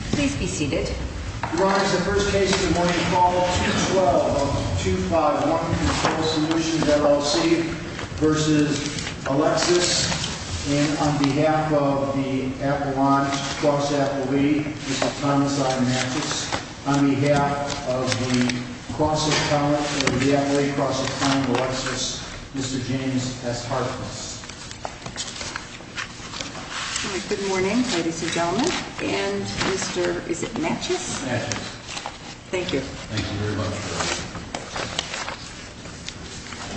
and on behalf of the Appalachian Cross Athlete, Mr. Thomas I. Mathis, on behalf of the Appalachian Cross Athlete, Mr. James S. Harkness. Good morning, ladies and gentlemen, and Mr. Mathis. Thank you.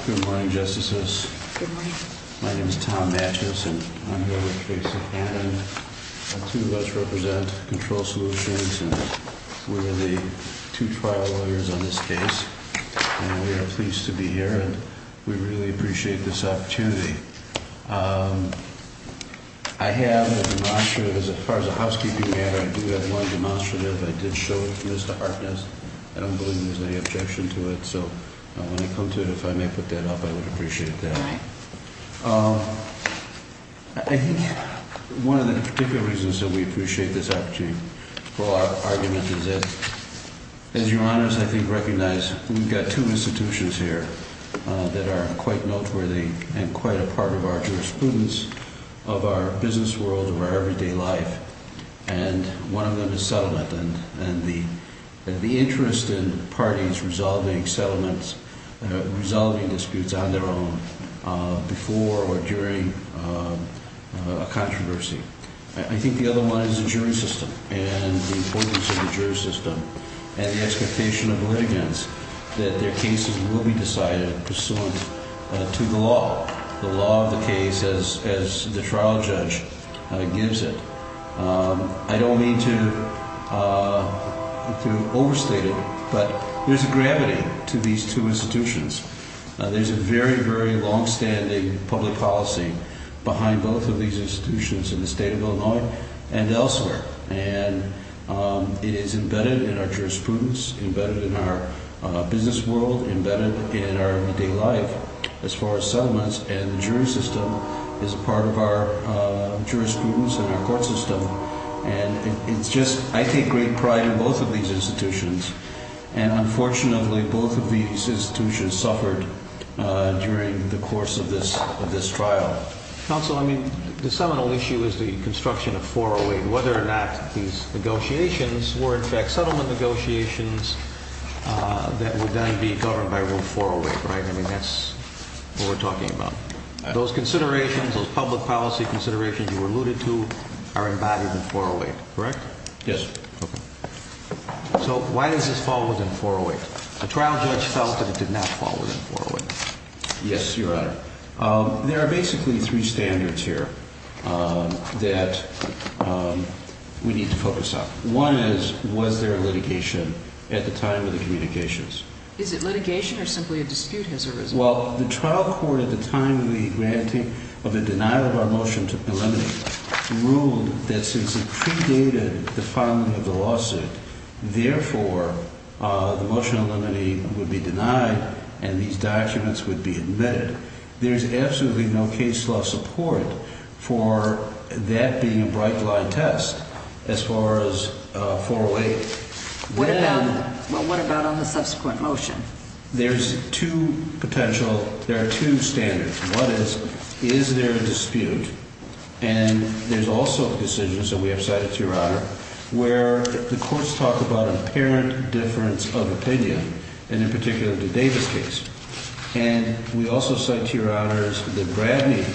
Good morning, Justices. My name is Tom Mathis, and I'm here with Tracy Cannon. The two of us represent Control Solutions, and we're the two trial lawyers on this case. And we are pleased to be here, and we really appreciate this opportunity. I have a demonstrative, as far as a housekeeping matter, I do have one demonstrative. I did show it to Mr. Harkness. I don't believe there's any objection to it, so when I come to it, if I may put that up, I would appreciate that. I think one of the particular reasons that we appreciate this opportunity for our argument is that, as Your Honors, I think recognize we've got two institutions here that are quite noteworthy and quite a part of our jurisprudence, of our business world, of our everyday life, and one of them is settlement. And the interest in parties resolving settlements, resolving disputes on their own, before or during a controversy. I think the other one is the jury system and the importance of the jury system and the expectation of litigants that their cases will be decided pursuant to the law, the law of the case as the trial judge gives it. I don't mean to overstate it, but there's a gravity to these two institutions. There's a very, very long-standing public policy behind both of these institutions in the state of Illinois and elsewhere. And it is embedded in our jurisprudence, embedded in our business world, embedded in our everyday life, as far as settlements, and the jury system is part of our jurisprudence and our court system. And it's just, I take great pride in both of these institutions. And unfortunately, both of these institutions suffered during the course of this trial. Counsel, I mean, the seminal issue is the construction of 408. Whether or not these negotiations were in fact settlement negotiations that would then be governed by Rule 408, right? I mean, that's what we're talking about. Those considerations, those public policy considerations you alluded to, are embodied in 408, correct? Yes. Okay. So why does this fall within 408? A trial judge felt that it did not fall within 408. Yes, Your Honor. There are basically three standards here that we need to focus on. One is, was there litigation at the time of the communications? Is it litigation or simply a dispute? Well, the trial court at the time of the granting of the denial of our motion to eliminate ruled that since it predated the filing of the lawsuit, therefore, the motion to eliminate would be denied and these documents would be admitted. There is absolutely no case law support for that being a bright-line test as far as 408. Well, what about on the subsequent motion? There's two potential, there are two standards. One is, is there a dispute? And there's also decisions that we have cited to Your Honor where the courts talk about an apparent difference of opinion and in particular the Davis case. And we also cite to Your Honors the Bradney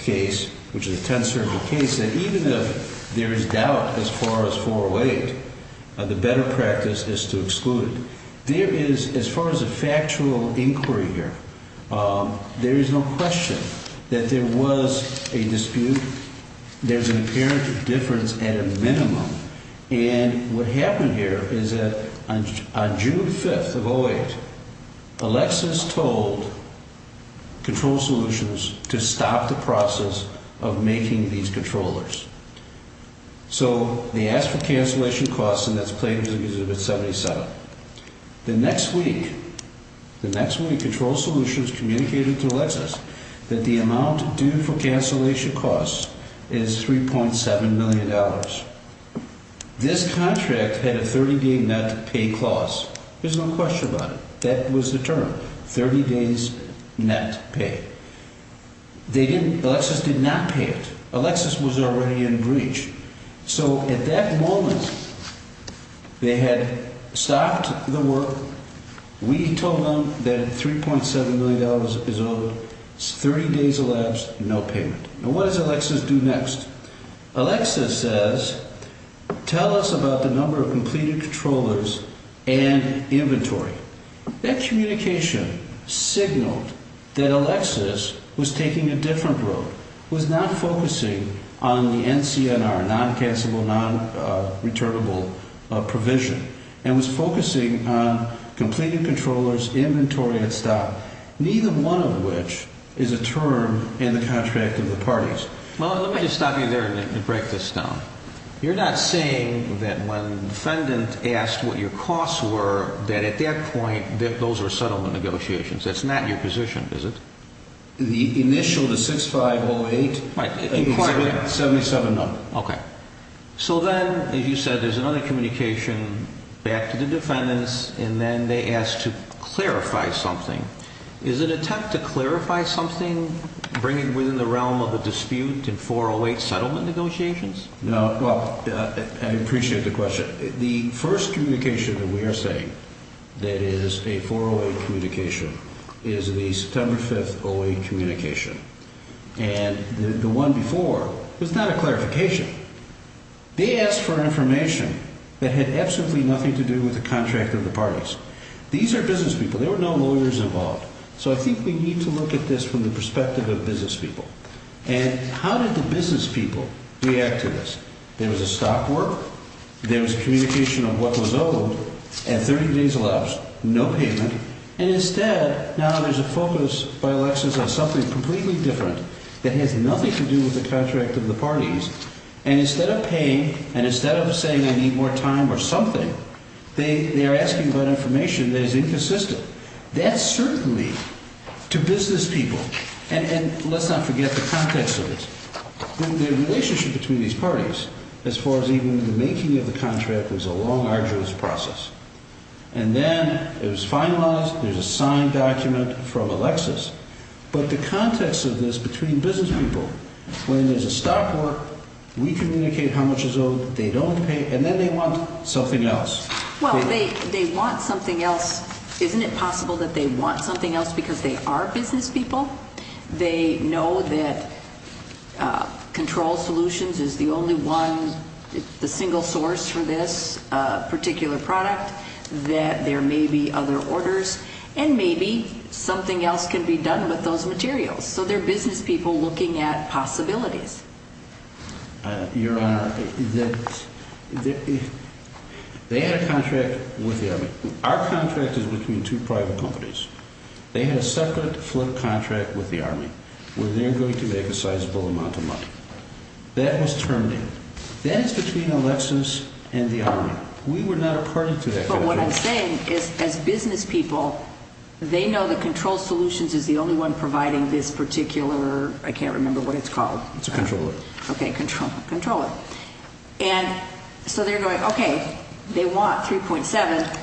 case, which is a tense sort of case, that even if there is doubt as far as 408, the better practice is to exclude it. There is, as far as a factual inquiry here, there is no question that there was a dispute. There's an apparent difference at a minimum. And what happened here is that on June 5th of 08, Alexis told Control Solutions to stop the process of making these controllers. So, they asked for cancellation costs and that's played in Exhibit 77. The next week, the next week Control Solutions communicated to Alexis that the amount due for cancellation costs is $3.7 million. This contract had a 30-day net pay clause. There's no question about it. That was the term, 30 days net pay. They didn't, Alexis did not pay it. Alexis was already in breach. So, at that moment, they had stopped the work. We told them that $3.7 million is owed, 30 days of labs, no payment. Now, what does Alexis do next? Alexis says, tell us about the number of completed controllers and inventory. That communication signaled that Alexis was taking a different road, was not focusing on the NCNR, non-cancellable, non-returnable provision, and was focusing on completed controllers, inventory, and stop, neither one of which is a term in the contract of the parties. Well, let me just stop you there and break this down. You're not saying that when the defendant asked what your costs were, that at that point, those were settlement negotiations. That's not your position, is it? The initial, the 6508, Exhibit 77, no. Okay. So then, as you said, there's another communication back to the defendants, and then they ask to clarify something. Is it a tech to clarify something, bring it within the realm of a dispute in 408 settlement negotiations? No. Well, I appreciate the question. The first communication that we are saying that is a 408 communication is the September 5th 08 communication. And the one before was not a clarification. They asked for information that had absolutely nothing to do with the contract of the parties. These are business people. There were no lawyers involved. So I think we need to look at this from the perspective of business people. And how did the business people react to this? There was a stop work, there was communication of what was owed, and 30 days elapsed, no payment. And instead, now there's a focus by elections on something completely different that has nothing to do with the contract of the parties. And instead of paying, and instead of saying I need more time or something, they are asking for information that is inconsistent. That's certainly to business people. And let's not forget the context of this. The relationship between these parties, as far as even the making of the contract, was a long, arduous process. And then it was finalized. There's a signed document from Alexis. But the context of this between business people, when there's a stop work, we communicate how much is owed, they don't pay, and then they want something else. Well, they want something else. Isn't it possible that they want something else because they are business people? They know that Control Solutions is the only one, the single source for this particular product, that there may be other orders. And maybe something else can be done with those materials. So they're business people looking at possibilities. Your Honor, they had a contract with the Army. Our contract is between two private companies. They had a separate flip contract with the Army where they're going to make a sizable amount of money. That was terminated. That is between Alexis and the Army. We were not a party to that contract. But what I'm saying is as business people, they know that Control Solutions is the only one providing this particular, I can't remember what it's called. It's a controller. Okay, controller. And so they're going, okay, they want 3.7.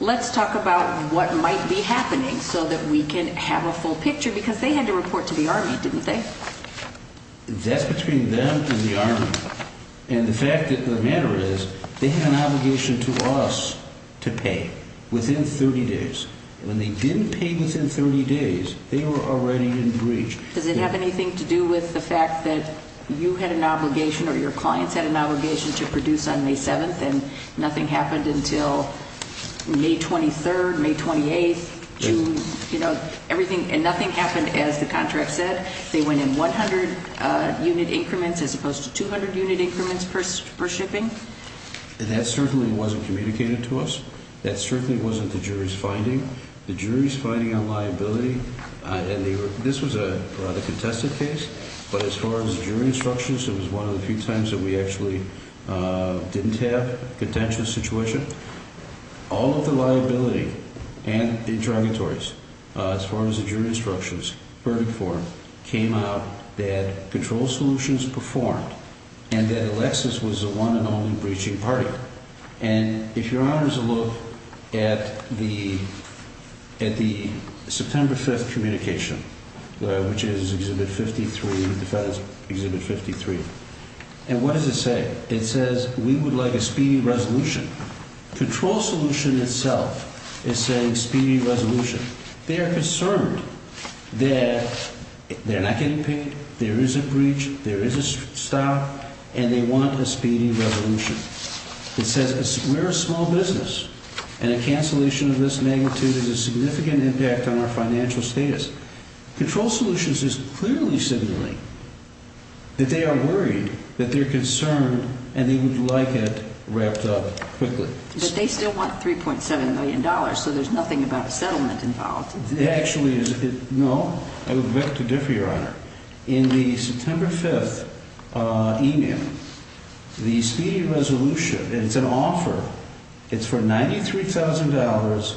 Let's talk about what might be happening so that we can have a full picture because they had to report to the Army, didn't they? That's between them and the Army. And the fact of the matter is they have an obligation to us to pay within 30 days. When they didn't pay within 30 days, they were already in breach. Does it have anything to do with the fact that you had an obligation or your clients had an obligation to produce on May 7th and nothing happened until May 23rd, May 28th, June, you know, everything, and nothing happened as the contract said? They went in 100-unit increments as opposed to 200-unit increments per shipping? That certainly wasn't communicated to us. That certainly wasn't the jury's finding. The jury's finding on liability, and this was a rather contested case, but as far as jury instructions, it was one of the few times that we actually didn't have a contentious situation. All of the liability and the interrogatories, as far as the jury instructions, verdict form, came out that control solutions performed and that Alexis was the one and only breaching party. And if your Honor is to look at the September 5th communication, which is Exhibit 53, the FedEx Exhibit 53, and what does it say? It says we would like a speedy resolution. Control solution itself is saying speedy resolution. They are concerned that they're not getting paid, there is a breach, there is a stop, and they want a speedy resolution. It says we're a small business, and a cancellation of this magnitude is a significant impact on our financial status. Control solutions is clearly signaling that they are worried, that they're concerned, and they would like it wrapped up quickly. But they still want $3.7 million, so there's nothing about a settlement involved. No, I would like to differ, Your Honor. In the September 5th email, the speedy resolution, it's an offer, it's for $93,000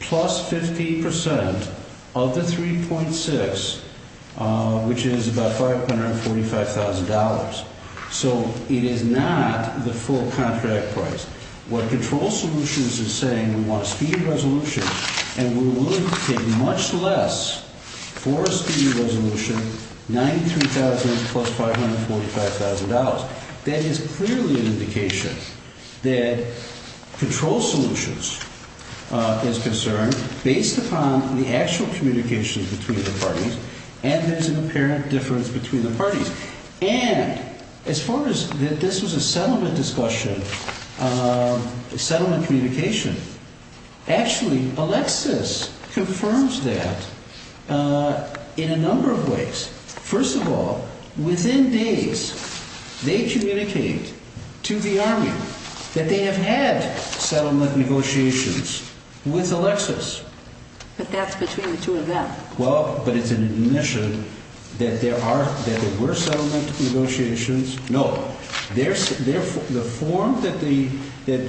plus 15% of the 3.6, which is about $545,000. So it is not the full contract price. What control solutions is saying, we want a speedy resolution, and we're willing to take much less for a speedy resolution, $93,000 plus $545,000. That is clearly an indication that control solutions is concerned based upon the actual communications between the parties, and there's an apparent difference between the parties. And, as far as this was a settlement discussion, settlement communication, actually, Alexis confirms that in a number of ways. First of all, within days, they communicate to the Army that they have had settlement negotiations with Alexis. But that's between the two of them. Well, but it's an admission that there were settlement negotiations. No. The form that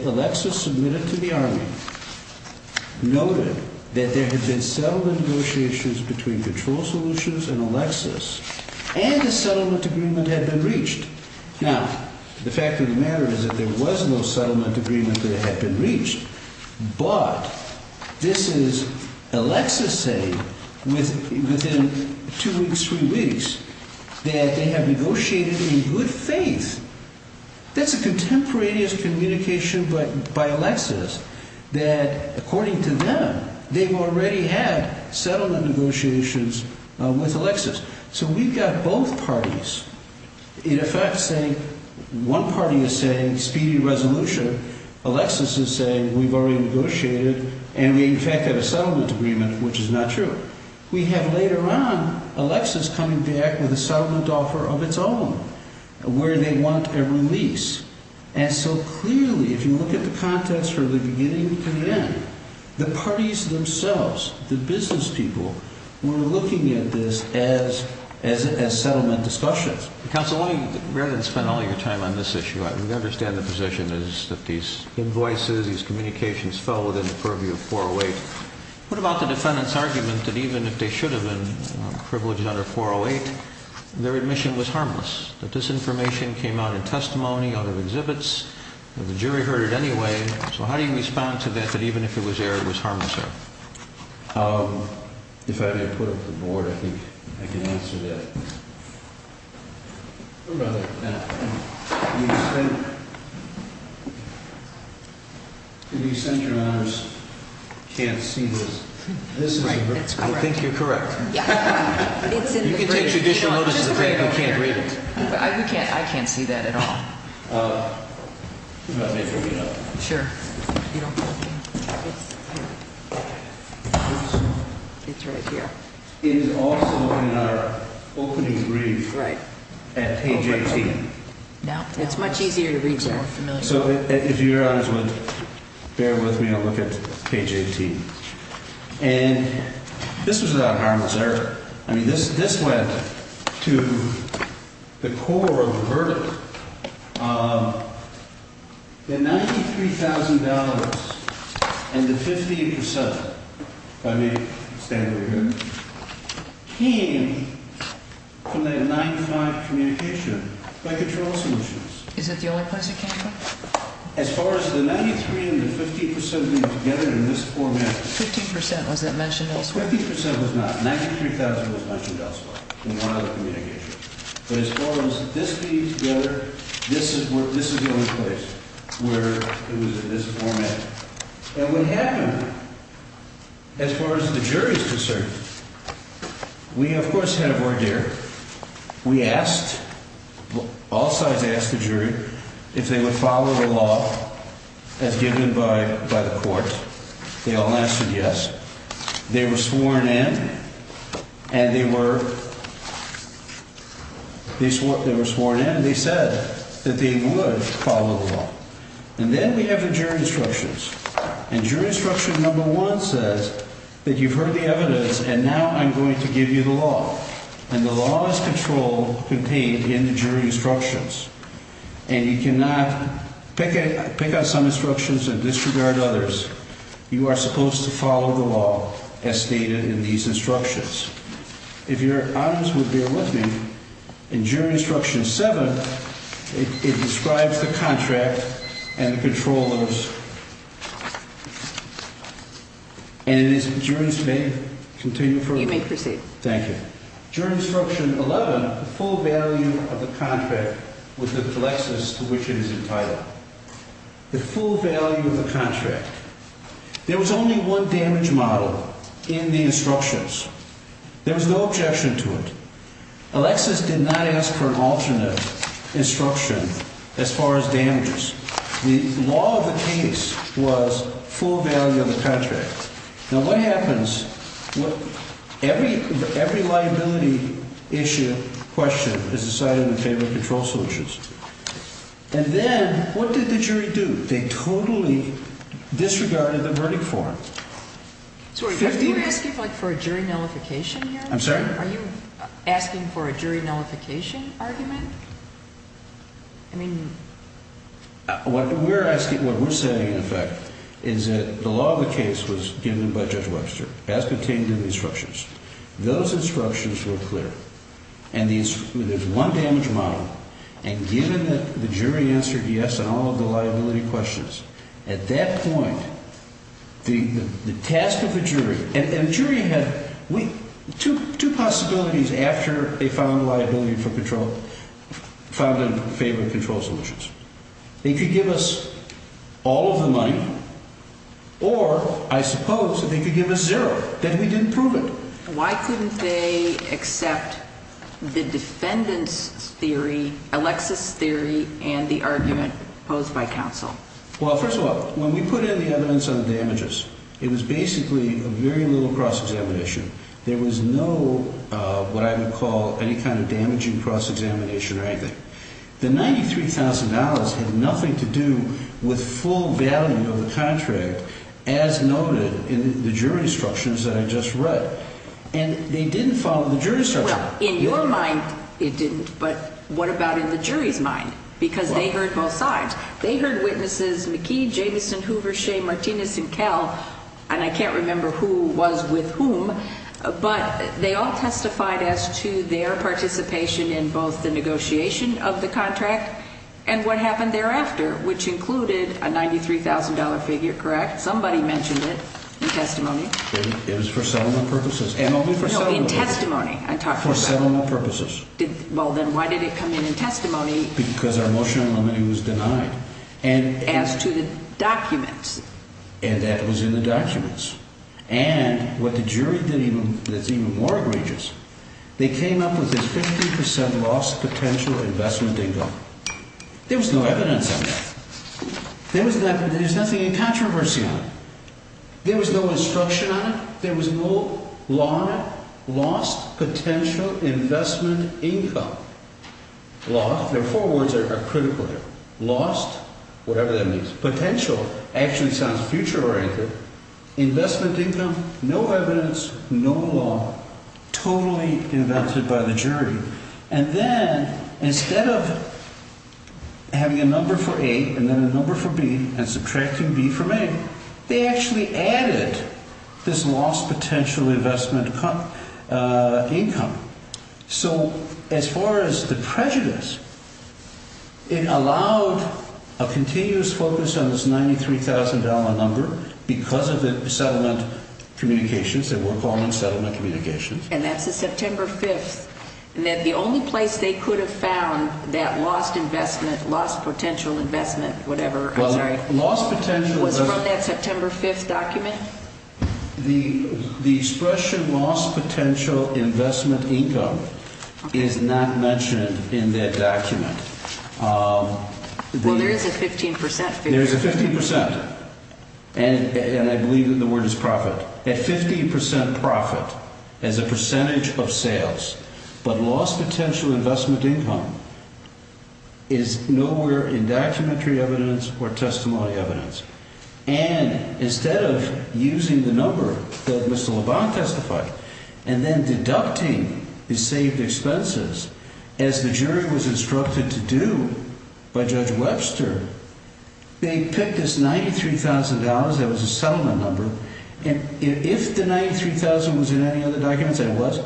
Alexis submitted to the Army noted that there had been settlement negotiations between control solutions and Alexis, and a settlement agreement had been reached. Now, the fact of the matter is that there was no settlement agreement that had been reached, but this is Alexis saying within two weeks, three weeks, that they have negotiated in good faith. That's a contemporaneous communication by Alexis that, according to them, they've already had settlement negotiations with Alexis. So we've got both parties, in effect, saying one party is saying speedy resolution, Alexis is saying we've already negotiated, and we, in fact, have a settlement agreement, which is not true. We have, later on, Alexis coming back with a settlement offer of its own, where they want a release. And so clearly, if you look at the context from the beginning to the end, the parties themselves, the business people, were looking at this as settlement discussions. Counsel, rather than spend all your time on this issue, I understand the position is that these invoices, these communications, fell within the purview of 408. What about the defendant's argument that even if they should have been privileged under 408, their admission was harmless? That this information came out in testimony, out of exhibits, that the jury heard it anyway. So how do you respond to that, that even if it was aired, it was harmless there? If I may put up the board, I think I can answer that. I think you're correct. You can take judicial notice of the fact that we can't read it. I can't see that at all. Sure. It's right here. It is also in our opening brief at page 18. It's much easier to read there. So if Your Honors would bear with me, I'll look at page 18. And this was about harmless error. I mean, this went to the core of the verdict. The $93,000 and the 15 percent, if I may stand over here, came from that 95 communication by control solutions. Is that the only place it came from? As far as the 93 and the 15 percent being together in this format. 15 percent, was that mentioned elsewhere? 15 percent was not. $93,000 was mentioned elsewhere in one of the communications. But as far as this being together, this is the only place where it was in this format. And what happened, as far as the jury is concerned, we, of course, had a voir dire. We asked, all sides asked the jury if they would follow the law as given by the court. They all answered yes. They were sworn in and they said that they would follow the law. And then we have the jury instructions. And jury instruction number one says that you've heard the evidence and now I'm going to give you the law. And the law is controlled, contained in the jury instructions. And you cannot pick out some instructions and disregard others. You are supposed to follow the law as stated in these instructions. If your honors would bear with me, in jury instruction seven, it describes the contract and the controllers. And it is, jurors may continue further. You may proceed. Thank you. Jury instruction 11, the full value of the contract with Alexis to which it is entitled. The full value of the contract. There was only one damage model in the instructions. There was no objection to it. Alexis did not ask for an alternate instruction as far as damages. The law of the case was full value of the contract. Now what happens, every liability issue, question is decided in favor of control solutions. And then what did the jury do? They totally disregarded the verdict form. So are you asking for a jury nullification here? I'm sorry? Are you asking for a jury nullification argument? What we're saying in effect is that the law of the case was given by Judge Webster as contained in the instructions. Those instructions were clear. And there's one damage model. And given that the jury answered yes on all of the liability questions, at that point, the task of the jury, And the jury had two possibilities after they found liability for control, found in favor of control solutions. They could give us all of the money, or I suppose they could give us zero, that we didn't prove it. Why couldn't they accept the defendant's theory, Alexis' theory, and the argument posed by counsel? Well, first of all, when we put in the evidence on the damages, it was basically a very little cross-examination. There was no, what I would call, any kind of damaging cross-examination or anything. The $93,000 had nothing to do with full value of the contract, as noted in the jury instructions that I just read. And they didn't follow the jury's instructions. Well, in your mind, it didn't. But what about in the jury's mind? Because they heard both sides. They heard witnesses McKee, Jamison, Hoover, Shea, Martinez, and Kell, and I can't remember who was with whom, but they all testified as to their participation in both the negotiation of the contract and what happened thereafter, which included a $93,000 figure, correct? Somebody mentioned it in testimony. It was for settlement purposes, and only for settlement purposes. No, in testimony, I'm talking about. For settlement purposes. Well, then why did it come in in testimony? Because our motion on limiting was denied. As to the documents. And that was in the documents. And what the jury did that's even more egregious, they came up with this 50% lost potential investment income. There was no evidence on that. There's nothing in controversy on it. There was no instruction on it. There was no lost potential investment income law. The four words are critical here. Lost, whatever that means. Potential actually sounds future-oriented. Investment income, no evidence, no law, totally invented by the jury. And then instead of having a number for A and then a number for B and subtracting B from A, they actually added this lost potential investment income. So as far as the prejudice, it allowed a continuous focus on this $93,000 number because of the settlement communications. They were calling them settlement communications. And that's the September 5th. And the only place they could have found that lost investment, lost potential investment, whatever, I'm sorry. Well, lost potential. Was from that September 5th document? The expression lost potential investment income is not mentioned in that document. Well, there is a 15% figure. There's a 15%. And I believe that the word is profit. A 15% profit as a percentage of sales. But lost potential investment income is nowhere in documentary evidence or testimony evidence. And instead of using the number that Mr. LeBlanc testified and then deducting the saved expenses as the jury was instructed to do by Judge Webster, they picked this $93,000 that was a settlement number. And if the $93,000 was in any of the documents, it was.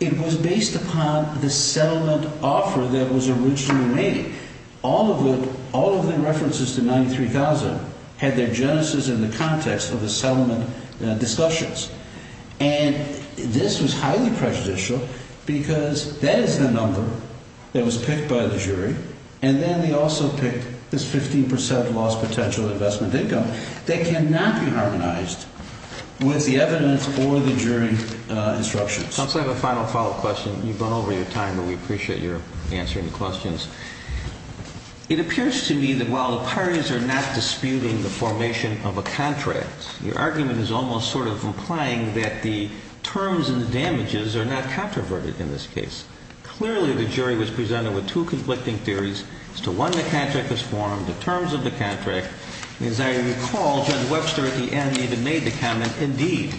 It was based upon the settlement offer that was originally made. All of the references to $93,000 had their genesis in the context of the settlement discussions. And this was highly prejudicial because that is the number that was picked by the jury. And then they also picked this 15% lost potential investment income. That cannot be harmonized with the evidence or the jury instructions. Since I have a final follow-up question, you've gone over your time, but we appreciate your answering the questions. It appears to me that while the parties are not disputing the formation of a contract, your argument is almost sort of implying that the terms and the damages are not controverted in this case. Clearly, the jury was presented with two conflicting theories as to when the contract was formed, the terms of the contract. As I recall, Judge Webster at the end even made the comment, indeed,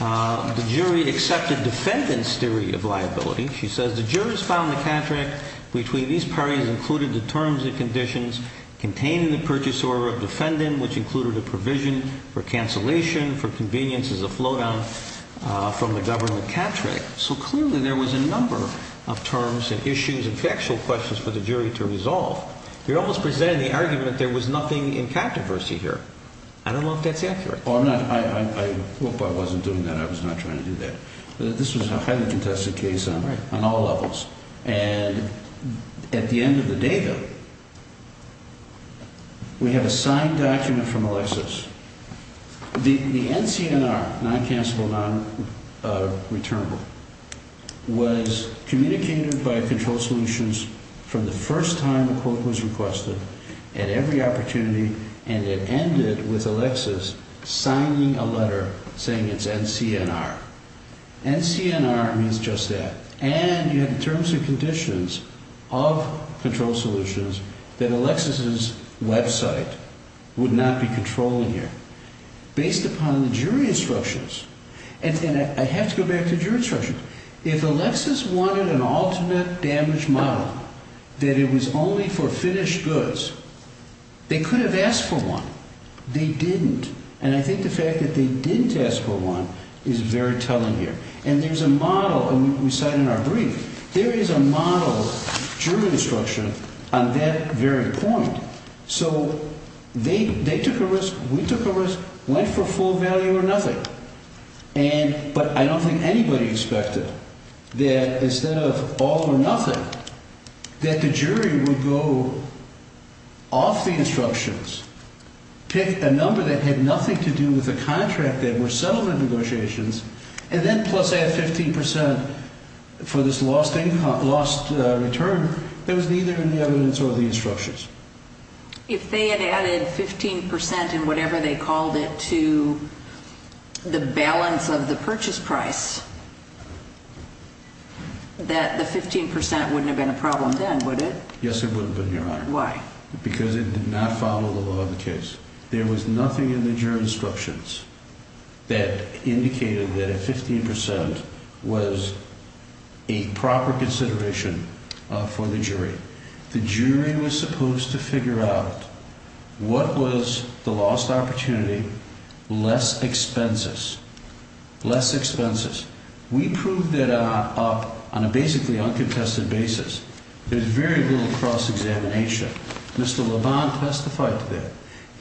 the jury accepted defendant's theory of liability. She says the jurors found the contract between these parties included the terms and conditions containing the purchase order of defendant, which included a provision for cancellation for convenience as a flow down from the government contract. So clearly there was a number of terms and issues and factual questions for the jury to resolve. You're almost presenting the argument that there was nothing in controversy here. I don't know if that's accurate. I hope I wasn't doing that. I was not trying to do that. This was a highly contested case on all levels. And at the end of the day, though, we have a signed document from Alexis. The NCNR, non-cancellable, non-returnable, was communicated by Control Solutions from the first time the quote was requested at every opportunity, and it ended with Alexis signing a letter saying it's NCNR. NCNR means just that. And you had terms and conditions of Control Solutions that Alexis's website would not be controlling here. Based upon the jury instructions, and I have to go back to jury instructions, if Alexis wanted an alternate damage model that it was only for finished goods, they could have asked for one. They didn't. And I think the fact that they didn't ask for one is very telling here. And there's a model, and we cite in our brief, there is a model jury instruction on that very point. So they took a risk, we took a risk, went for full value or nothing. But I don't think anybody expected that instead of all or nothing, that the jury would go off the instructions, pick a number that had nothing to do with a contract that were settlement negotiations, and then plus add 15% for this lost return that was neither in the evidence or the instructions. If they had added 15% in whatever they called it to the balance of the purchase price, that the 15% wouldn't have been a problem then, would it? Yes, it wouldn't have been, Your Honor. Why? Because it did not follow the law of the case. There was nothing in the jury instructions that indicated that a 15% was a proper consideration for the jury. The jury was supposed to figure out what was the lost opportunity, less expenses. Less expenses. We proved that up on a basically uncontested basis. There's very little cross-examination. Mr. Lebon testified to that.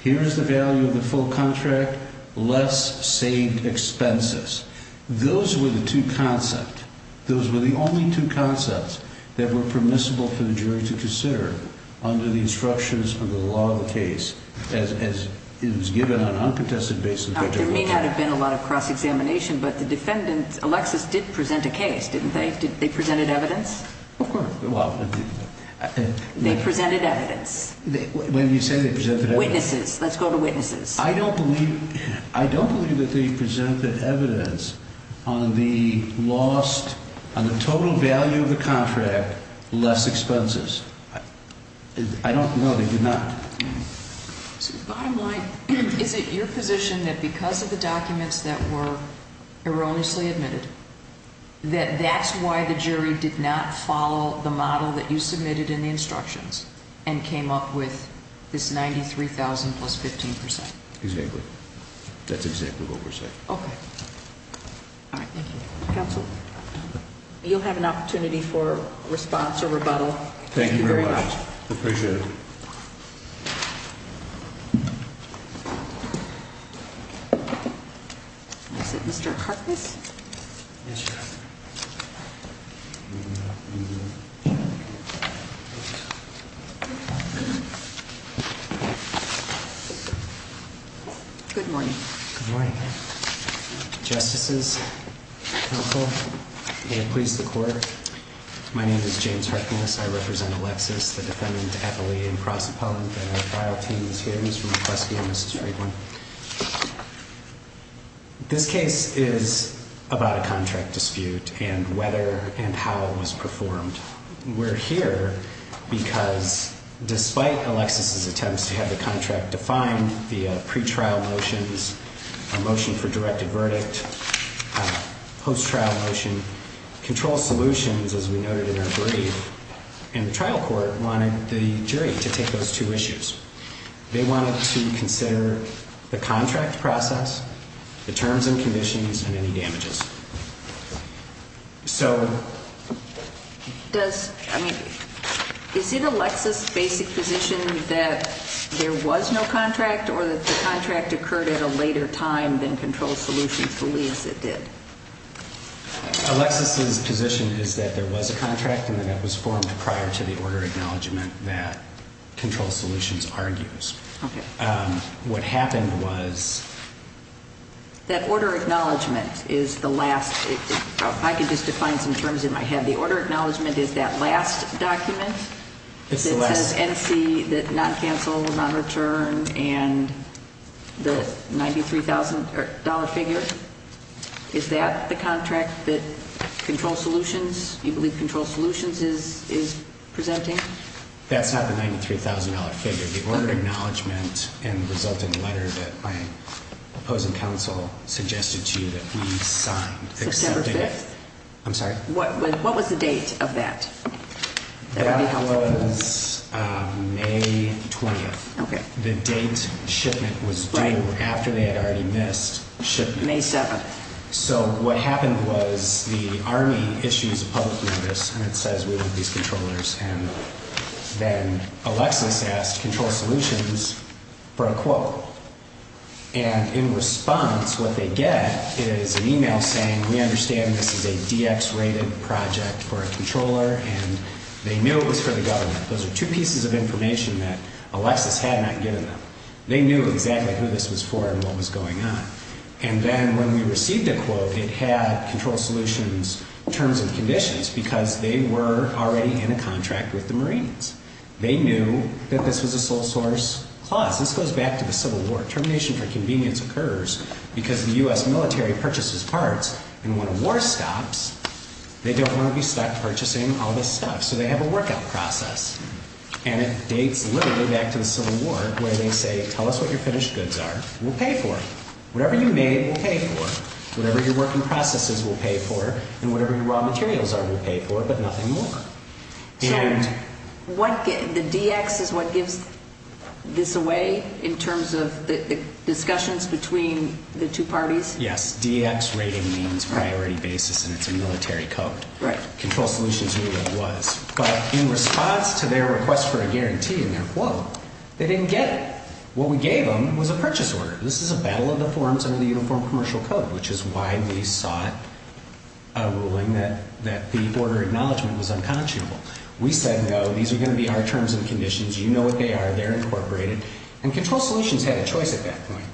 Here is the value of the full contract, less saved expenses. Those were the two concepts. Those were the only two concepts that were permissible for the jury to consider under the instructions of the law of the case, as it was given on an uncontested basis. There may not have been a lot of cross-examination, but the defendant, Alexis, did present a case, didn't they? They presented evidence? Of course. They presented evidence. Witnesses. Let's go to witnesses. I don't believe that they presented evidence on the lost, on the total value of the contract, less expenses. I don't know. They did not. Bottom line, is it your position that because of the documents that were erroneously admitted, that that's why the jury did not follow the model that you submitted in the instructions and came up with this 93,000 plus 15%? Exactly. That's exactly what we're saying. Okay. All right, thank you. Counsel, you'll have an opportunity for response or rebuttal. Thank you very much. Appreciate it. Is it Mr. Harkness? Yes, Your Honor. Good morning. Good morning. Justices, counsel, may it please the court. My name is James Harkness. I represent Alexis, the defendant, appellee, and prosecutor. The trial team is here. This is from McCluskey and Mrs. Friedland. This case is about a contract dispute and whether and how it was performed. We're here because despite Alexis' attempts to have the contract defined via pretrial motions, a motion for directed verdict, post-trial motion, control solutions, as we noted in our brief, and the trial court wanted the jury to take those two issues. They wanted to consider the contract process, the terms and conditions, and any damages. So does, I mean, is it Alexis' basic position that there was no contract or that the contract occurred at a later time than control solutions believes it did? Alexis' position is that there was a contract and that it was formed prior to the order acknowledgement that control solutions argues. Okay. What happened was- That order acknowledgement is the last, if I could just define some terms in my head, the order acknowledgement is that last document? It's the last. It says NC, that non-cancel, non-return, and the $93,000 figure? Is that the contract that control solutions, you believe control solutions is presenting? That's not the $93,000 figure. The order acknowledgement and resulting letter that my opposing counsel suggested to you that we signed. September 5th? I'm sorry? What was the date of that? That was May 20th. Okay. The date shipment was due after they had already missed shipment. May 7th. So what happened was the Army issues a public notice and it says we want these controllers and then Alexis asked control solutions for a quote. And in response, what they get is an email saying we understand this is a DX rated project for a controller and they knew it was for the government. Those are two pieces of information that Alexis had not given them. They knew exactly who this was for and what was going on. And then when we received a quote, it had control solutions terms and conditions because they were already in a contract with the Marines. They knew that this was a sole source clause. This goes back to the Civil War. Termination for convenience occurs because the U.S. military purchases parts and when a war stops, they don't want to be stuck purchasing all this stuff. So they have a workout process. And it dates literally back to the Civil War where they say tell us what your finished goods are. We'll pay for it. Whatever you made, we'll pay for it. Whatever your working processes, we'll pay for it. And whatever your raw materials are, we'll pay for it, but nothing more. So the DX is what gives this away in terms of the discussions between the two parties? Yes, DX rating means priority basis and it's a military code. Right. Control solutions knew what it was. But in response to their request for a guarantee in their quote, they didn't get it. What we gave them was a purchase order. This is a battle of the forms under the Uniform Commercial Code, which is why we sought a ruling that the order acknowledgment was unconscionable. We said no. These are going to be our terms and conditions. You know what they are. They're incorporated. And control solutions had a choice at that point.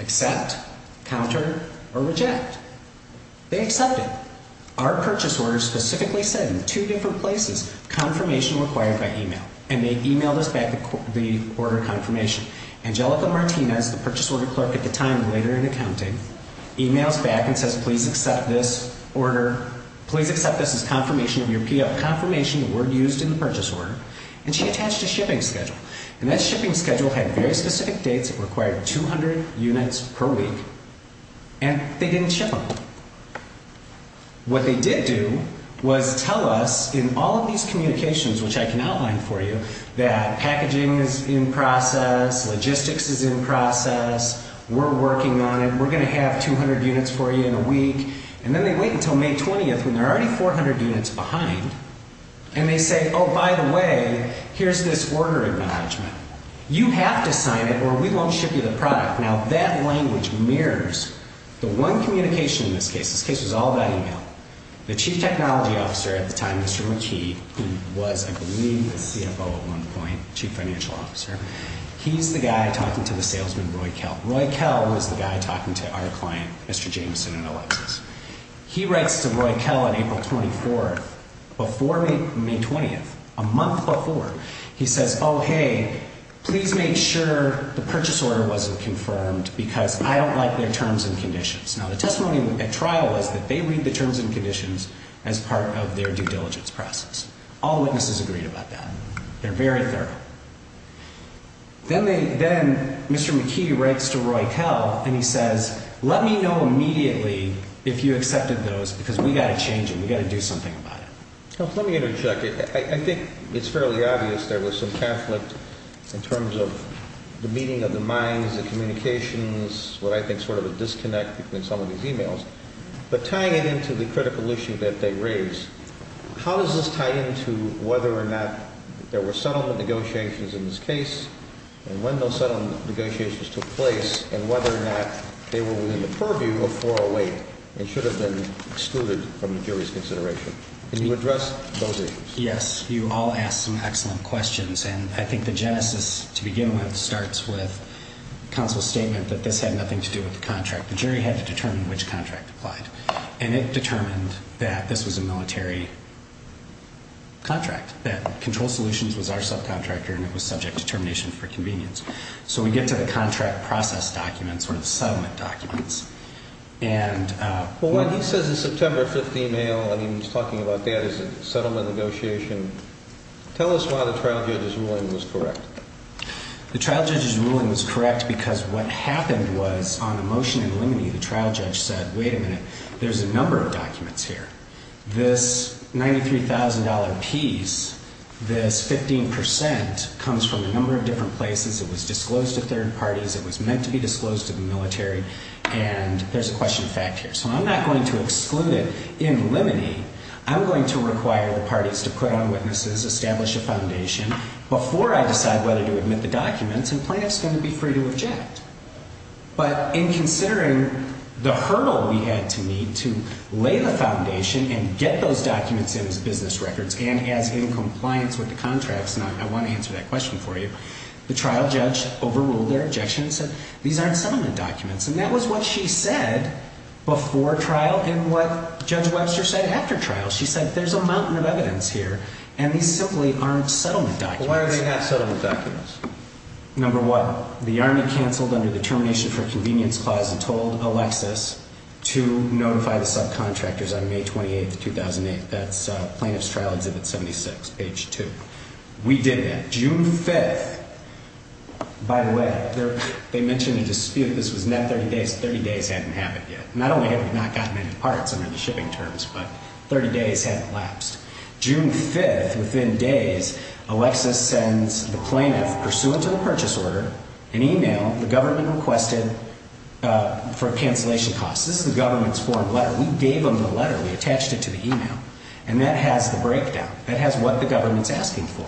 Accept, counter, or reject. They accepted. Our purchase order specifically said in two different places confirmation required by email. And they emailed us back the order confirmation. Angelica Martinez, the purchase order clerk at the time later in accounting, emails back and says please accept this order. Please accept this as confirmation of your PF confirmation, the word used in the purchase order. And she attached a shipping schedule. And that shipping schedule had very specific dates. It required 200 units per week. And they didn't ship them. What they did do was tell us in all of these communications, which I can outline for you, that packaging is in process. Logistics is in process. We're working on it. We're going to have 200 units for you in a week. And then they wait until May 20th when they're already 400 units behind. And they say, oh, by the way, here's this order acknowledgment. You have to sign it or we won't ship you the product. Now, that language mirrors the one communication in this case. This case was all about email. The chief technology officer at the time, Mr. McKee, who was, I believe, the CFO at one point, chief financial officer, he's the guy talking to the salesman, Roy Kell. Roy Kell was the guy talking to our client, Mr. Jameson and Alexis. He writes to Roy Kell on April 24th. Before May 20th, a month before, he says, oh, hey, please make sure the purchase order wasn't confirmed because I don't like their terms and conditions. Now, the testimony at trial was that they read the terms and conditions as part of their due diligence process. All witnesses agreed about that. They're very thorough. Then Mr. McKee writes to Roy Kell and he says, let me know immediately if you accepted those because we've got to change them. We've got to do something about it. Let me interject. I think it's fairly obvious there was some conflict in terms of the meeting of the minds, the communications, what I think sort of a disconnect between some of these emails. But tying it into the critical issue that they raise, how does this tie into whether or not there were settlement negotiations in this case and when those settlement negotiations took place and whether or not they were within the purview of 408 and should have been excluded from the jury's consideration? Can you address those issues? Yes. You all ask some excellent questions. And I think the genesis to begin with starts with counsel's statement that this had nothing to do with the contract. The jury had to determine which contract applied. And it determined that this was a military contract, that Control Solutions was our subcontractor and it was subject to termination for convenience. So we get to the contract process documents or the settlement documents. Well, when he says the September 15th email and he's talking about that as a settlement negotiation, tell us why the trial judge's ruling was correct. The trial judge's ruling was correct because what happened was on the motion in limine the trial judge said, wait a minute, there's a number of documents here. This $93,000 piece, this 15% comes from a number of different places. It was disclosed to third parties. It was meant to be disclosed to the military. And there's a question of fact here. So I'm not going to exclude it in limine. I'm going to require the parties to put on witnesses, establish a foundation before I decide whether to admit the documents. And plaintiff's going to be free to object. But in considering the hurdle we had to meet to lay the foundation and get those documents in as business records and as in compliance with the contracts, and I want to answer that question for you, the trial judge overruled their objection and said, these aren't settlement documents. And that was what she said before trial and what Judge Webster said after trial. She said, there's a mountain of evidence here, and these simply aren't settlement documents. Why are they not settlement documents? Number one, the Army canceled under the termination for convenience clause and told Alexis to notify the subcontractors on May 28th, 2008. That's plaintiff's trial exhibit 76, page two. We did that. June 5th, by the way, they mentioned a dispute. This was not 30 days. Thirty days hadn't happened yet. Not only had we not gotten any parts under the shipping terms, but 30 days had elapsed. June 5th, within days, Alexis sends the plaintiff, pursuant to the purchase order, an e-mail the government requested for cancellation costs. This is the government's form letter. We gave them the letter. We attached it to the e-mail. And that has the breakdown. That has what the government's asking for.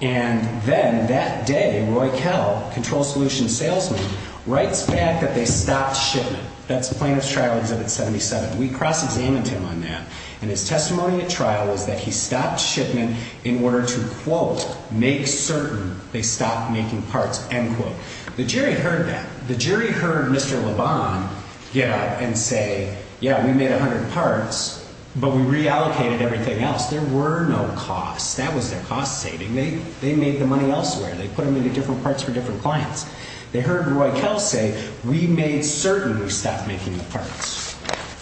And then that day, Roy Kell, control solution salesman, writes back that they stopped shipment. That's plaintiff's trial exhibit 77. We cross-examined him on that. And his testimony at trial was that he stopped shipment in order to, quote, make certain they stopped making parts, end quote. The jury heard that. The jury heard Mr. Lebon get up and say, yeah, we made 100 parts, but we reallocated everything else. There were no costs. That was their cost saving. They made the money elsewhere. They put them into different parts for different clients. They heard Roy Kell say, we made certain we stopped making the parts.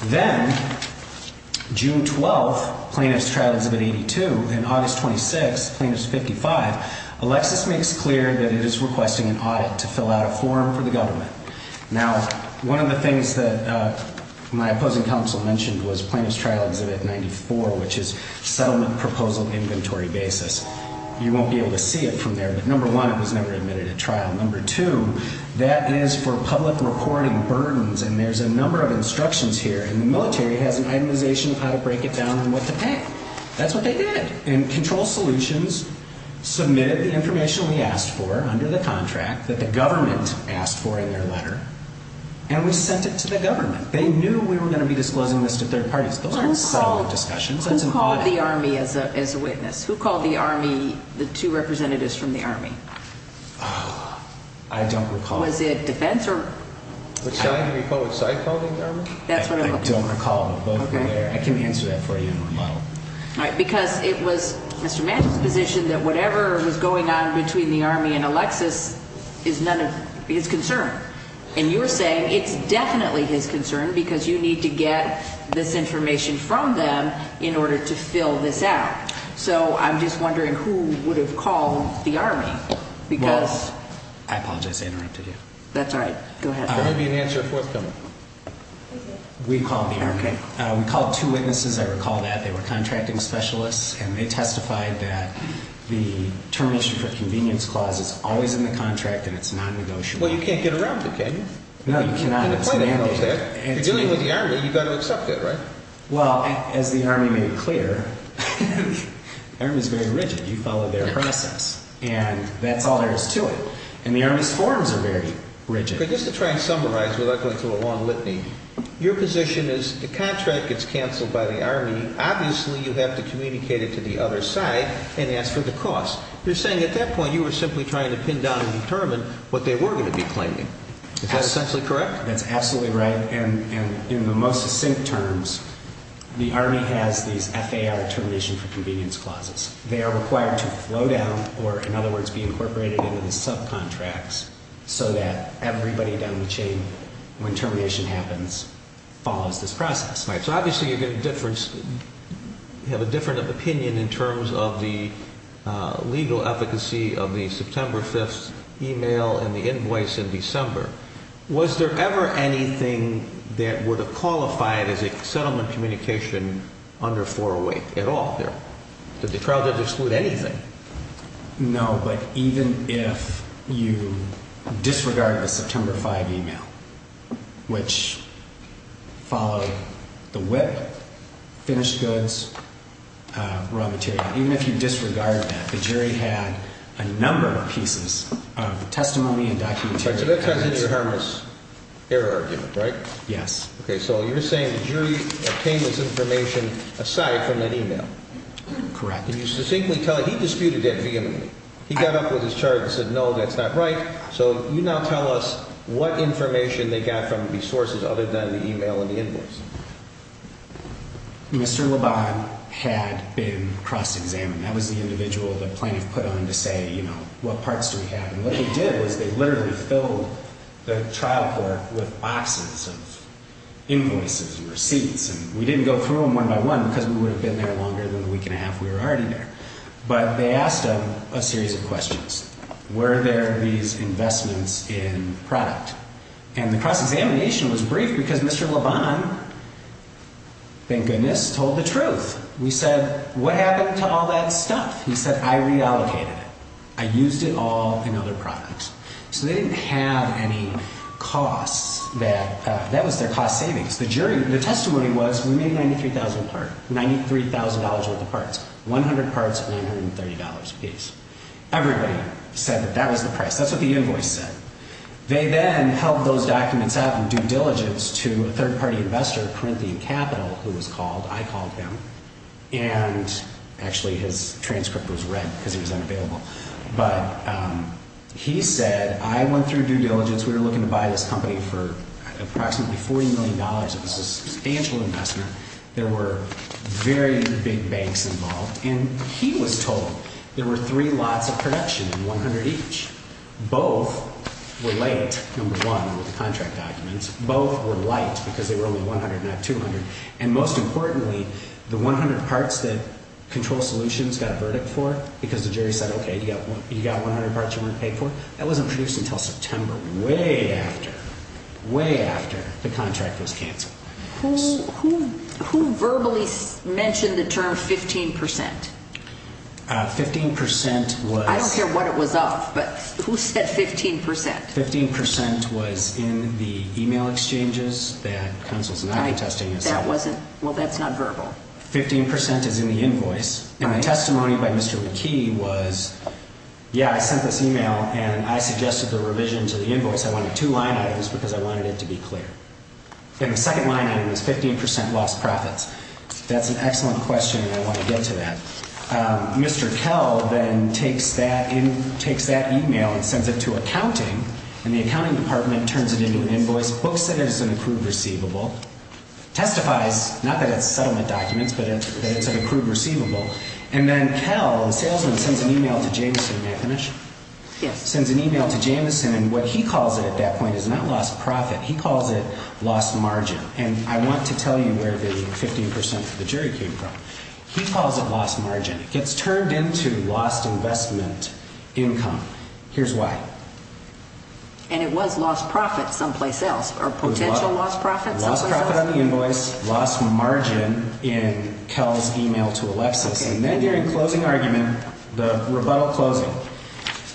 Then, June 12th, plaintiff's trial exhibit 82. And August 26th, plaintiff's 55. Alexis makes clear that it is requesting an audit to fill out a form for the government. Now, one of the things that my opposing counsel mentioned was plaintiff's trial exhibit 94, which is settlement proposal inventory basis. You won't be able to see it from there. But number one, it was never admitted at trial. Number two, that is for public reporting burdens. And there's a number of instructions here. And the military has an itemization of how to break it down and what to pay. That's what they did. And control solutions submitted the information we asked for under the contract that the government asked for in their letter. And we sent it to the government. They knew we were going to be disclosing this to third parties. Those aren't settlement discussions. That's an audit. Who called the Army as a witness? Who called the Army, the two representatives from the Army? I don't recall. Was it defense or? I don't recall, but both were there. I can answer that for you in remodel. All right. Because it was Mr. Mantle's position that whatever was going on between the Army and Alexis is none of his concern. And you're saying it's definitely his concern because you need to get this information from them in order to fill this out. So I'm just wondering who would have called the Army because. Well, I apologize. I interrupted you. That's all right. Go ahead. There may be an answer forthcoming. We called the Army. We called two witnesses. I recall that. They were contracting specialists, and they testified that the termination for convenience clause is always in the contract and it's nonnegotiable. Well, you can't get around it, can you? No, you cannot. It's mandated. You're dealing with the Army. You've got to accept it, right? Well, as the Army made clear, the Army is very rigid. You follow their process, and that's all there is to it. And the Army's forms are very rigid. Just to try and summarize without going through a long litany, your position is the contract gets canceled by the Army. Obviously, you have to communicate it to the other side and ask for the cost. You're saying at that point you were simply trying to pin down and determine what they were going to be claiming. Is that essentially correct? That's absolutely right. And in the most succinct terms, the Army has these FAR termination for convenience clauses. They are required to flow down or, in other words, be incorporated into the subcontracts so that everybody down the chain, when termination happens, follows this process. Right. So obviously you're going to have a different opinion in terms of the legal efficacy of the September 5th email and the invoice in December. Was there ever anything that would have qualified as a settlement communication under 408 at all there? The trial didn't exclude anything. No, but even if you disregard the September 5th email, which followed the whip, finished goods, raw material, even if you disregard that, the jury had a number of pieces of testimony and documentary evidence. So that ties into your Hermas error argument, right? Yes. Okay. So you're saying the jury obtained this information aside from that email? Correct. Can you succinctly tell – he disputed that vehemently. He got up with his charge and said, no, that's not right. So you now tell us what information they got from these sources other than the email and the invoice. Mr. Labon had been cross-examined. That was the individual the plaintiff put on to say, you know, what parts do we have? And what they did was they literally filled the trial court with boxes of invoices and receipts. And we didn't go through them one by one because we would have been there longer than the week and a half we were already there. But they asked him a series of questions. Were there these investments in product? And the cross-examination was brief because Mr. Labon, thank goodness, told the truth. We said, what happened to all that stuff? He said, I reallocated it. I used it all in other products. So they didn't have any costs. That was their cost savings. The jury, the testimony was we made $93,000 worth of parts, 100 parts at $930 apiece. Everybody said that that was the price. That's what the invoice said. They then held those documents up in due diligence to a third-party investor, Corinthian Capital, who was called. I called him. Actually, his transcript was read because he was unavailable. But he said, I went through due diligence. We were looking to buy this company for approximately $40 million. It was a substantial investment. There were very big banks involved. And he was told there were three lots of production and 100 each. Both were late, number one, with the contract documents. Both were light because there were only 100, not 200. And most importantly, the 100 parts that Control Solutions got a verdict for, because the jury said, okay, you got 100 parts you weren't paid for, that wasn't produced until September, way after, way after the contract was canceled. Who verbally mentioned the term 15%? 15% was— I don't care what it was of, but who said 15%? 15% was in the email exchanges that Counsel's not contesting. That wasn't—well, that's not verbal. 15% is in the invoice. And the testimony by Mr. McKee was, yeah, I sent this email, and I suggested the revision to the invoice. I wanted two line items because I wanted it to be clear. And the second line item was 15% lost profits. That's an excellent question, and I want to get to that. Mr. Kell then takes that email and sends it to accounting, and the accounting department turns it into an invoice, books it as an accrued receivable, testifies, not that it's settlement documents, but that it's an accrued receivable. And then Kell, the salesman, sends an email to Jamison. May I finish? Yes. Sends an email to Jamison, and what he calls it at that point is not lost profit. He calls it lost margin. And I want to tell you where the 15% for the jury came from. He calls it lost margin. It gets turned into lost investment income. Here's why. And it was lost profit someplace else, or potential lost profit someplace else? It was lost profit on the invoice, lost margin in Kell's email to Alexis. And then during closing argument, the rebuttal closing,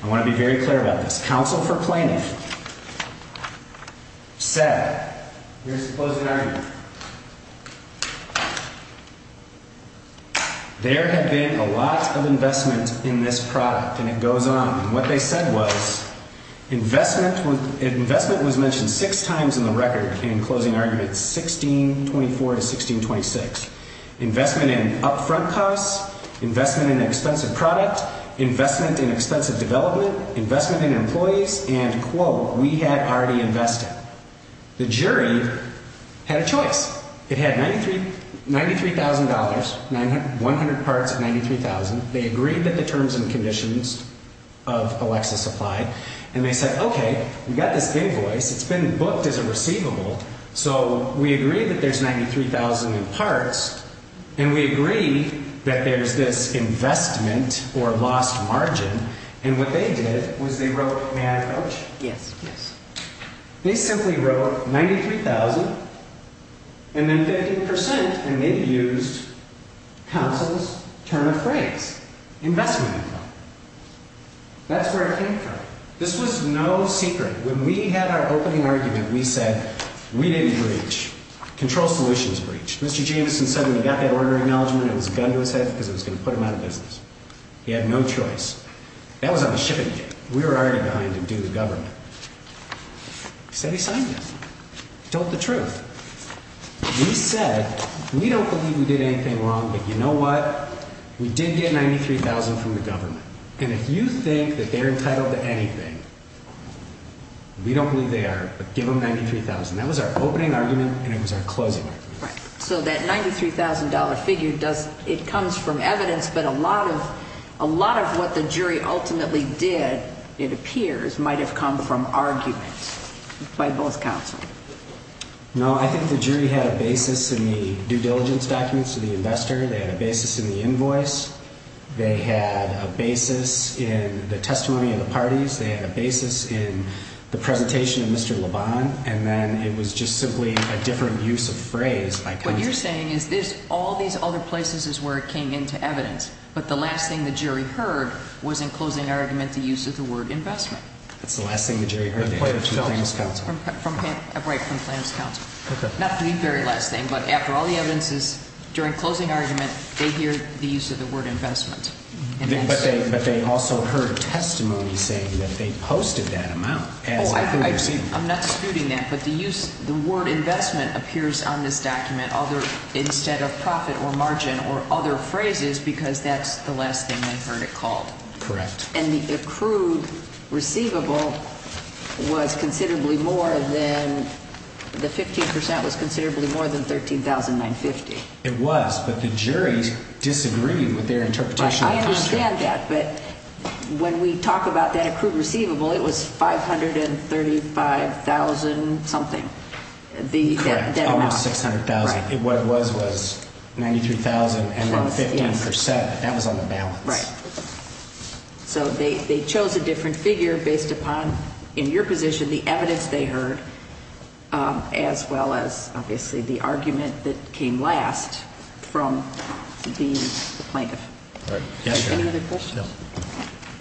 I want to be very clear about this. The counsel for planning said, here's the closing argument, there had been a lot of investment in this product. And it goes on. And what they said was investment was mentioned six times in the record in closing arguments 1624 to 1626. Investment in upfront costs, investment in an expensive product, investment in expensive development, investment in employees, and, quote, we had already invested. The jury had a choice. It had $93,000, 100 parts of 93,000. They agreed that the terms and conditions of Alexis applied. And they said, okay, we've got this invoice. It's been booked as a receivable. So we agree that there's 93,000 in parts. And we agree that there's this investment or lost margin. And what they did was they wrote, may I approach? Yes, yes. They simply wrote 93,000 and then 50%, and they used counsel's term of phrase, investment income. That's where it came from. This was no secret. When we had our opening argument, we said we didn't breach. Control Solutions breached. Mr. Jameson said when he got that order acknowledgment, it was a gun to his head because it was going to put him out of business. He had no choice. That was on the ship again. We were already behind him due to the government. He said he signed it. He told the truth. He said, we don't believe we did anything wrong, but you know what? We did get 93,000 from the government. And if you think that they're entitled to anything, we don't believe they are, but give them 93,000. That was our opening argument, and it was our closing argument. So that $93,000 figure, it comes from evidence, but a lot of what the jury ultimately did, it appears, might have come from argument by both counsel. No, I think the jury had a basis in the due diligence documents to the investor. They had a basis in the invoice. They had a basis in the testimony of the parties. They had a basis in the presentation of Mr. Lebon. And then it was just simply a different use of phrase by counsel. What you're saying is there's all these other places where it came into evidence, but the last thing the jury heard was in closing argument the use of the word investment. That's the last thing the jury heard. Right, from plaintiff's counsel. Not the very last thing, but after all the evidences, during closing argument, they heard the use of the word investment. But they also heard testimony saying that they posted that amount. Oh, I'm not disputing that, but the word investment appears on this document instead of profit or margin or other phrases because that's the last thing they heard it called. Correct. And the accrued receivable was considerably more than, the 15% was considerably more than $13,950. It was, but the jury disagreed with their interpretation. I understand that, but when we talk about that accrued receivable, it was $535,000 something. Correct, almost $600,000. What it was was $93,000 and then 15%. That was on the balance. Right. So they chose a different figure based upon, in your position, the evidence they heard as well as, obviously, the argument that came last from the plaintiff. Any other questions? No.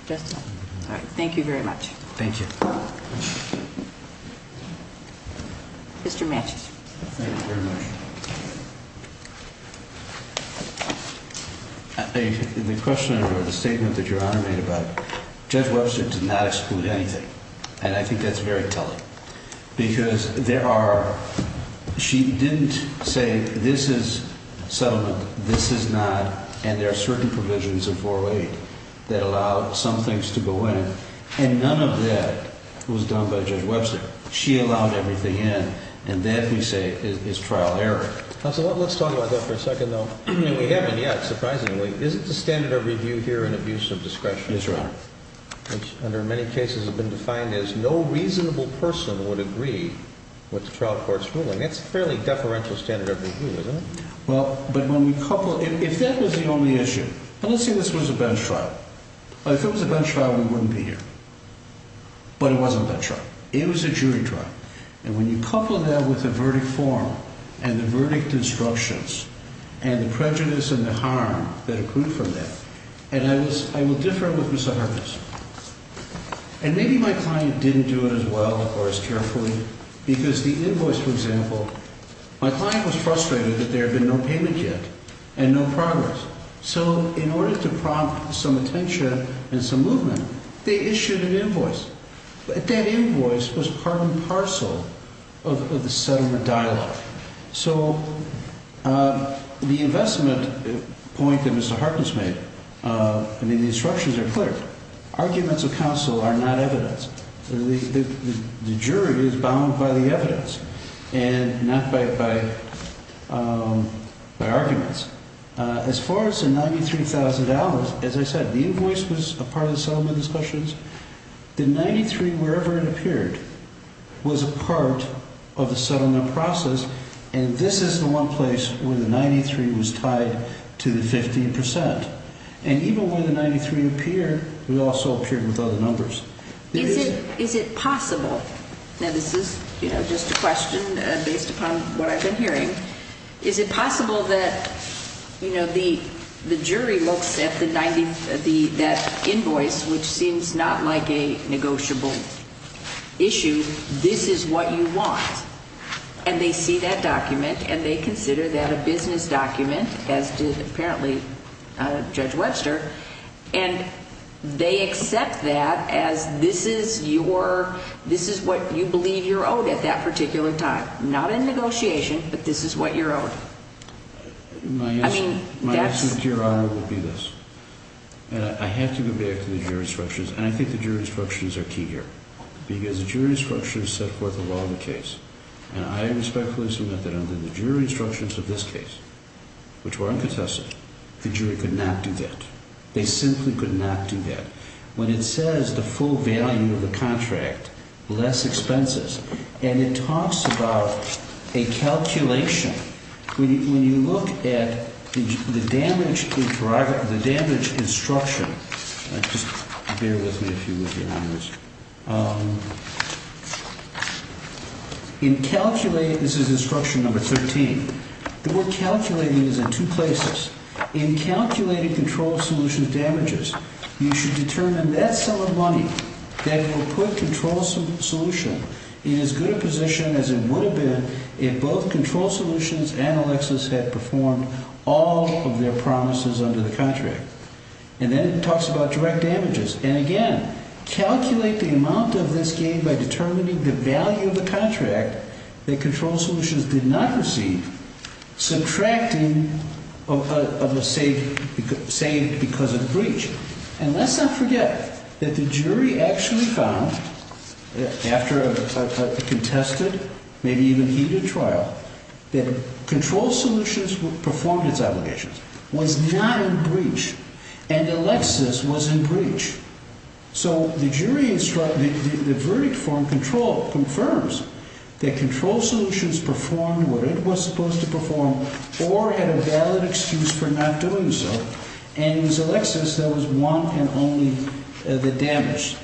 Just that. All right. Thank you very much. Thank you. Mr. Matches. Thank you very much. The question or the statement that Your Honor made about Judge Webster did not exclude anything, and I think that's very telling because there are, she didn't say this is settlement, this is not, and there are certain provisions in 408 that allow some things to go in, and none of that was done by Judge Webster. She allowed everything in, and that, we say, is trial error. Counsel, let's talk about that for a second, though. We haven't yet, surprisingly. Is it the standard of review here in abuse of discretion? Yes, Your Honor. Which, under many cases, has been defined as no reasonable person would agree with the trial court's ruling. That's a fairly deferential standard of review, isn't it? Well, but when we couple, if that was the only issue, and let's say this was a bench trial. If it was a bench trial, we wouldn't be here. But it wasn't a bench trial. It was a jury trial. And when you couple that with the verdict form and the verdict instructions and the prejudice and the harm that accrued from that, and I will differ with Mr. Harkness. And maybe my client didn't do it as well or as carefully because the invoice, for example, my client was frustrated that there had been no payment yet and no progress. So in order to prompt some attention and some movement, they issued an invoice. But that invoice was part and parcel of the settlement dialogue. So the investment point that Mr. Harkness made, I mean, the instructions are clear. Arguments of counsel are not evidence. The jury is bound by the evidence and not by arguments. As far as the $93,000, as I said, the invoice was a part of the settlement discussions. The 93, wherever it appeared, was a part of the settlement process. And this is the one place where the 93 was tied to the 15%. And even where the 93 appeared, it also appeared with other numbers. Is it possible? Now, this is, you know, just a question based upon what I've been hearing. Is it possible that, you know, the jury looks at that invoice, which seems not like a negotiable issue. This is what you want. And they see that document and they consider that a business document, as did apparently Judge Webster. And they accept that as this is your, this is what you believe you're owed at that particular time. Not in negotiation, but this is what you're owed. My answer to your honor would be this. I have to go back to the jury instructions. And I think the jury instructions are key here. Because the jury instructions set forth the law of the case. And I respectfully submit that under the jury instructions of this case, which were uncontested, the jury could not do that. They simply could not do that. When it says the full value of the contract, less expenses, and it talks about a calculation. When you look at the damage, the damage instruction, just bear with me if you would, your honors. In calculating, this is instruction number 13. The word calculating is in two places. In calculating control solutions damages, you should determine that sum of money that will put control solution in as good a position as it would have been if both control solutions and Alexis had performed all of their promises under the contract. And then it talks about direct damages. And again, calculate the amount of this gain by determining the value of the contract that control solutions did not receive, subtracting a save because of breach. And let's not forget that the jury actually found, after a contested, maybe even heated trial, that control solutions performed its obligations, was not in breach, and Alexis was in breach. So the jury, the verdict from control confirms that control solutions performed what it was supposed to perform or had a valid excuse for not doing so. And it was Alexis that was one and only, the damage.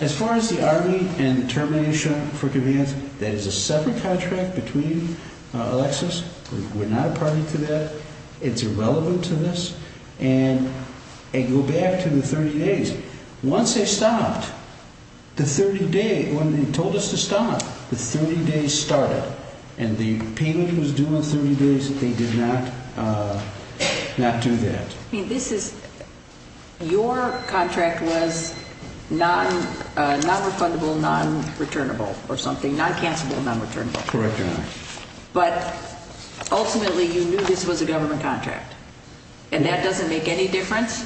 As far as the army and termination for demands, that is a separate contract between Alexis. We're not a party to that. It's irrelevant to this. And I go back to the 30 days. Once they stopped, the 30 days, when they told us to stop, the 30 days started. And the payment was due in 30 days. They did not do that. I mean, this is, your contract was non-refundable, non-returnable or something, non-cancellable, non-returnable. Correct or not. But ultimately, you knew this was a government contract. And that doesn't make any difference?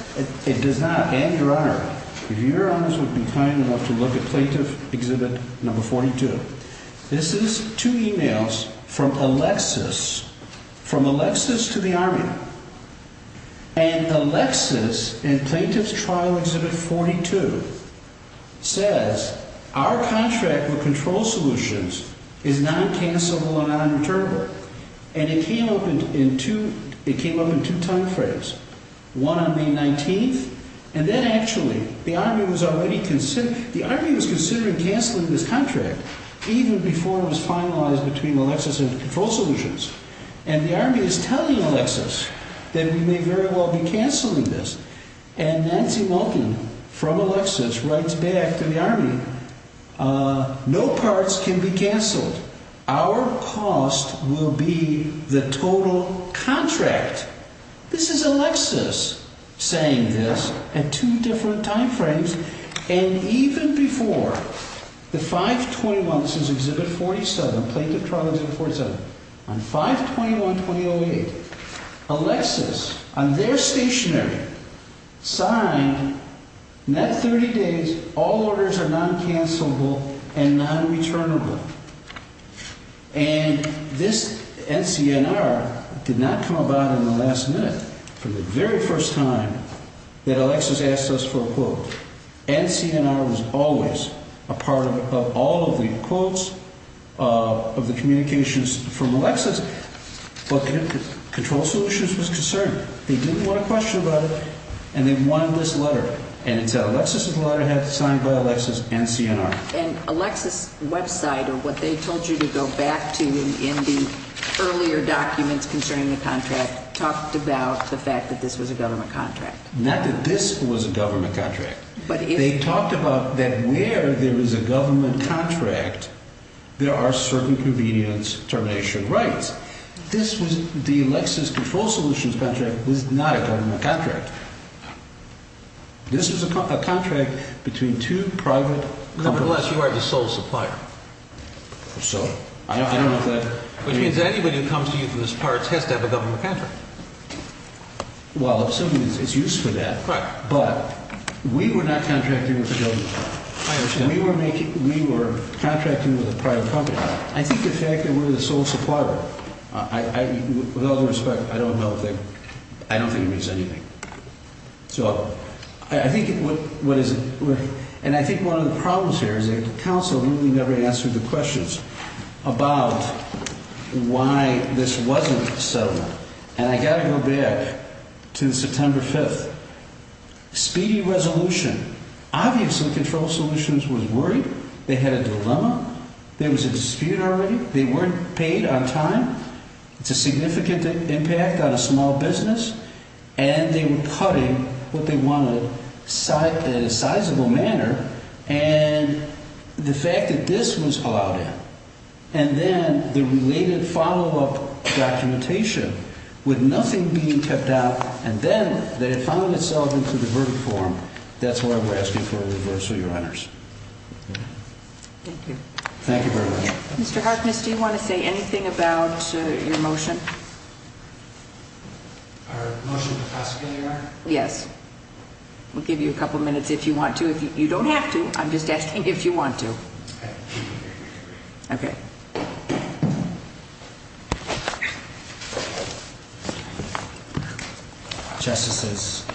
It does not. And, Your Honor, if Your Honors would be kind enough to look at Plaintiff Exhibit No. 42. This is two emails from Alexis, from Alexis to the army. And Alexis, in Plaintiff's Trial Exhibit 42, says, Our contract with Control Solutions is non-cancellable and non-returnable. And it came up in two time frames. One on May 19th, and then actually, the army was already considering, the army was considering canceling this contract even before it was finalized between Alexis and Control Solutions. And the army is telling Alexis that we may very well be cancelling this. And Nancy Wilkin, from Alexis, writes back to the army, No parts can be cancelled. Our cost will be the total contract. This is Alexis saying this at two different time frames. And even before the 5-21, this is Exhibit 47, Plaintiff Trial Exhibit 47, on 5-21-2008, Alexis, on their stationary, signed, net 30 days, all orders are non-cancellable and non-returnable. And this NCNR did not come about in the last minute, from the very first time that Alexis asked us for a quote. NCNR was always a part of all of the quotes of the communications from Alexis, but Control Solutions was concerned. They didn't want to question about it, and they wanted this letter. And it said, Alexis' letter had to be signed by Alexis and CNR. And Alexis' website, or what they told you to go back to in the earlier documents concerning the contract, talked about the fact that this was a government contract. Not that this was a government contract. They talked about that where there is a government contract, there are certain convenience termination rights. The Alexis Control Solutions contract was not a government contract. This was a contract between two private companies. Nevertheless, you are the sole supplier. So, I don't know if that... Which means that anybody who comes to you for this part has to have a government contract. Well, if something is used for that. Right. But, we were not contracting with a government company. I understand. We were contracting with a private company. I think the fact that we're the sole supplier, with all due respect, I don't think it means anything. So, I think what is... And I think one of the problems here is that the council really never answered the questions about why this wasn't a settlement. And I got to go back to September 5th. Speedy resolution. Obviously, Control Solutions was worried. They had a dilemma. There was a dispute already. They weren't paid on time. It's a significant impact on a small business. And they were putting what they wanted in a sizable manner. And the fact that this was allowed in. And then, the related follow-up documentation, with nothing being kept out. And then, they had found themselves into the verdict form. That's why we're asking for a reversal, Your Honors. Thank you. Thank you very much. Mr. Harkness, do you want to say anything about your motion? Our motion to prosecute, Your Honor? Yes. We'll give you a couple minutes if you want to. You don't have to. I'm just asking if you want to. Okay. Okay. Justices,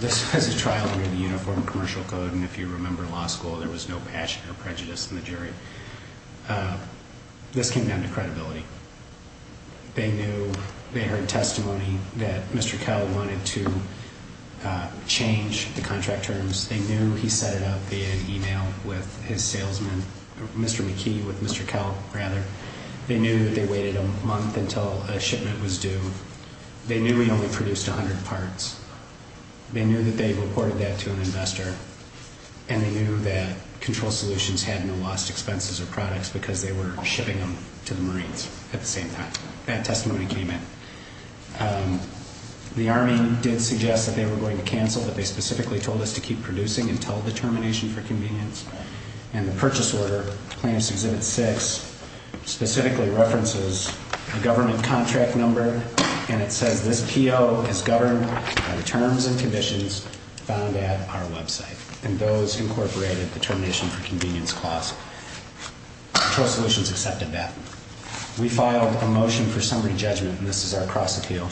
this was a trial under the Uniform Commercial Code. And if you remember law school, there was no passion or prejudice in the jury. This came down to credibility. They knew. They heard testimony that Mr. Kell wanted to change the contract terms. They knew he set it up via email with his salesman, Mr. McKee, with Mr. Kell, rather. They knew that they waited a month until a shipment was due. They knew he only produced 100 parts. They knew that they reported that to an investor. And they knew that Control Solutions had no lost expenses or products because they were shipping them to the Marines at the same time. That testimony came in. The Army did suggest that they were going to cancel, but they specifically told us to keep producing until the termination for convenience. And the purchase order, plaintiff's Exhibit 6, specifically references the government contract number, and it says this PO is governed by the terms and conditions found at our website. And those incorporated the termination for convenience clause. Control Solutions accepted that. We filed a motion for summary judgment, and this is our cross-appeal,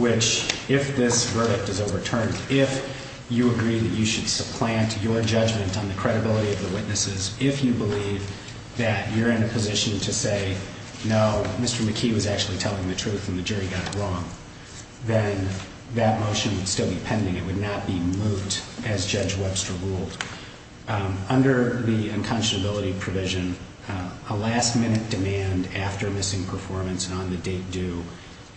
which, if this verdict is overturned, if you agree that you should supplant your judgment on the credibility of the witnesses, if you believe that you're in a position to say, no, Mr. McKee was actually telling the truth and the jury got it wrong, then that motion would still be pending. It would not be moot, as Judge Webster ruled. Under the unconscionability provision, a last-minute demand after missing performance and on-the-date due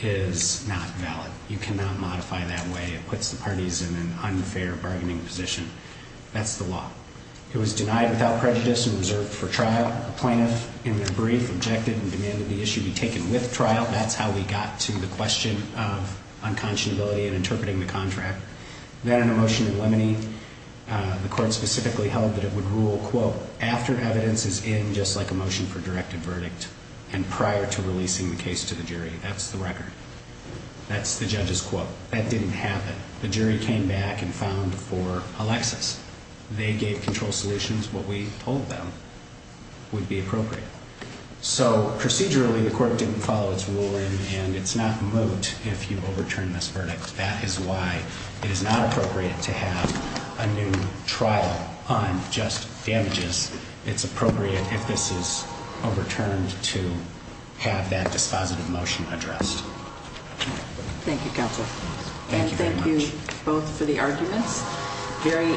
is not valid. You cannot modify that way. It puts the parties in an unfair bargaining position. That's the law. It was denied without prejudice and reserved for trial. A plaintiff, in their brief, objected and demanded the issue be taken with trial. That's how we got to the question of unconscionability and interpreting the contract. Then in a motion in Lemony, the court specifically held that it would rule, quote, after evidence is in, just like a motion for directed verdict, and prior to releasing the case to the jury. That's the record. That's the judge's quote. That didn't happen. The jury came back and filed for Alexis. They gave control solutions. What we told them would be appropriate. So, procedurally, the court didn't follow its ruling, and it's not moot if you overturn this verdict. That is why it is not appropriate to have a new trial on just damages. It's appropriate, if this is overturned, to have that dispositive motion addressed. Thank you, counsel. Thank you very much. And thank you both for the arguments. Very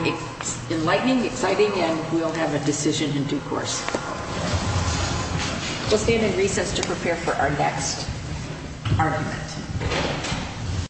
enlightening, exciting, and we'll have a decision in due course. We'll stand in recess to prepare for our next argument.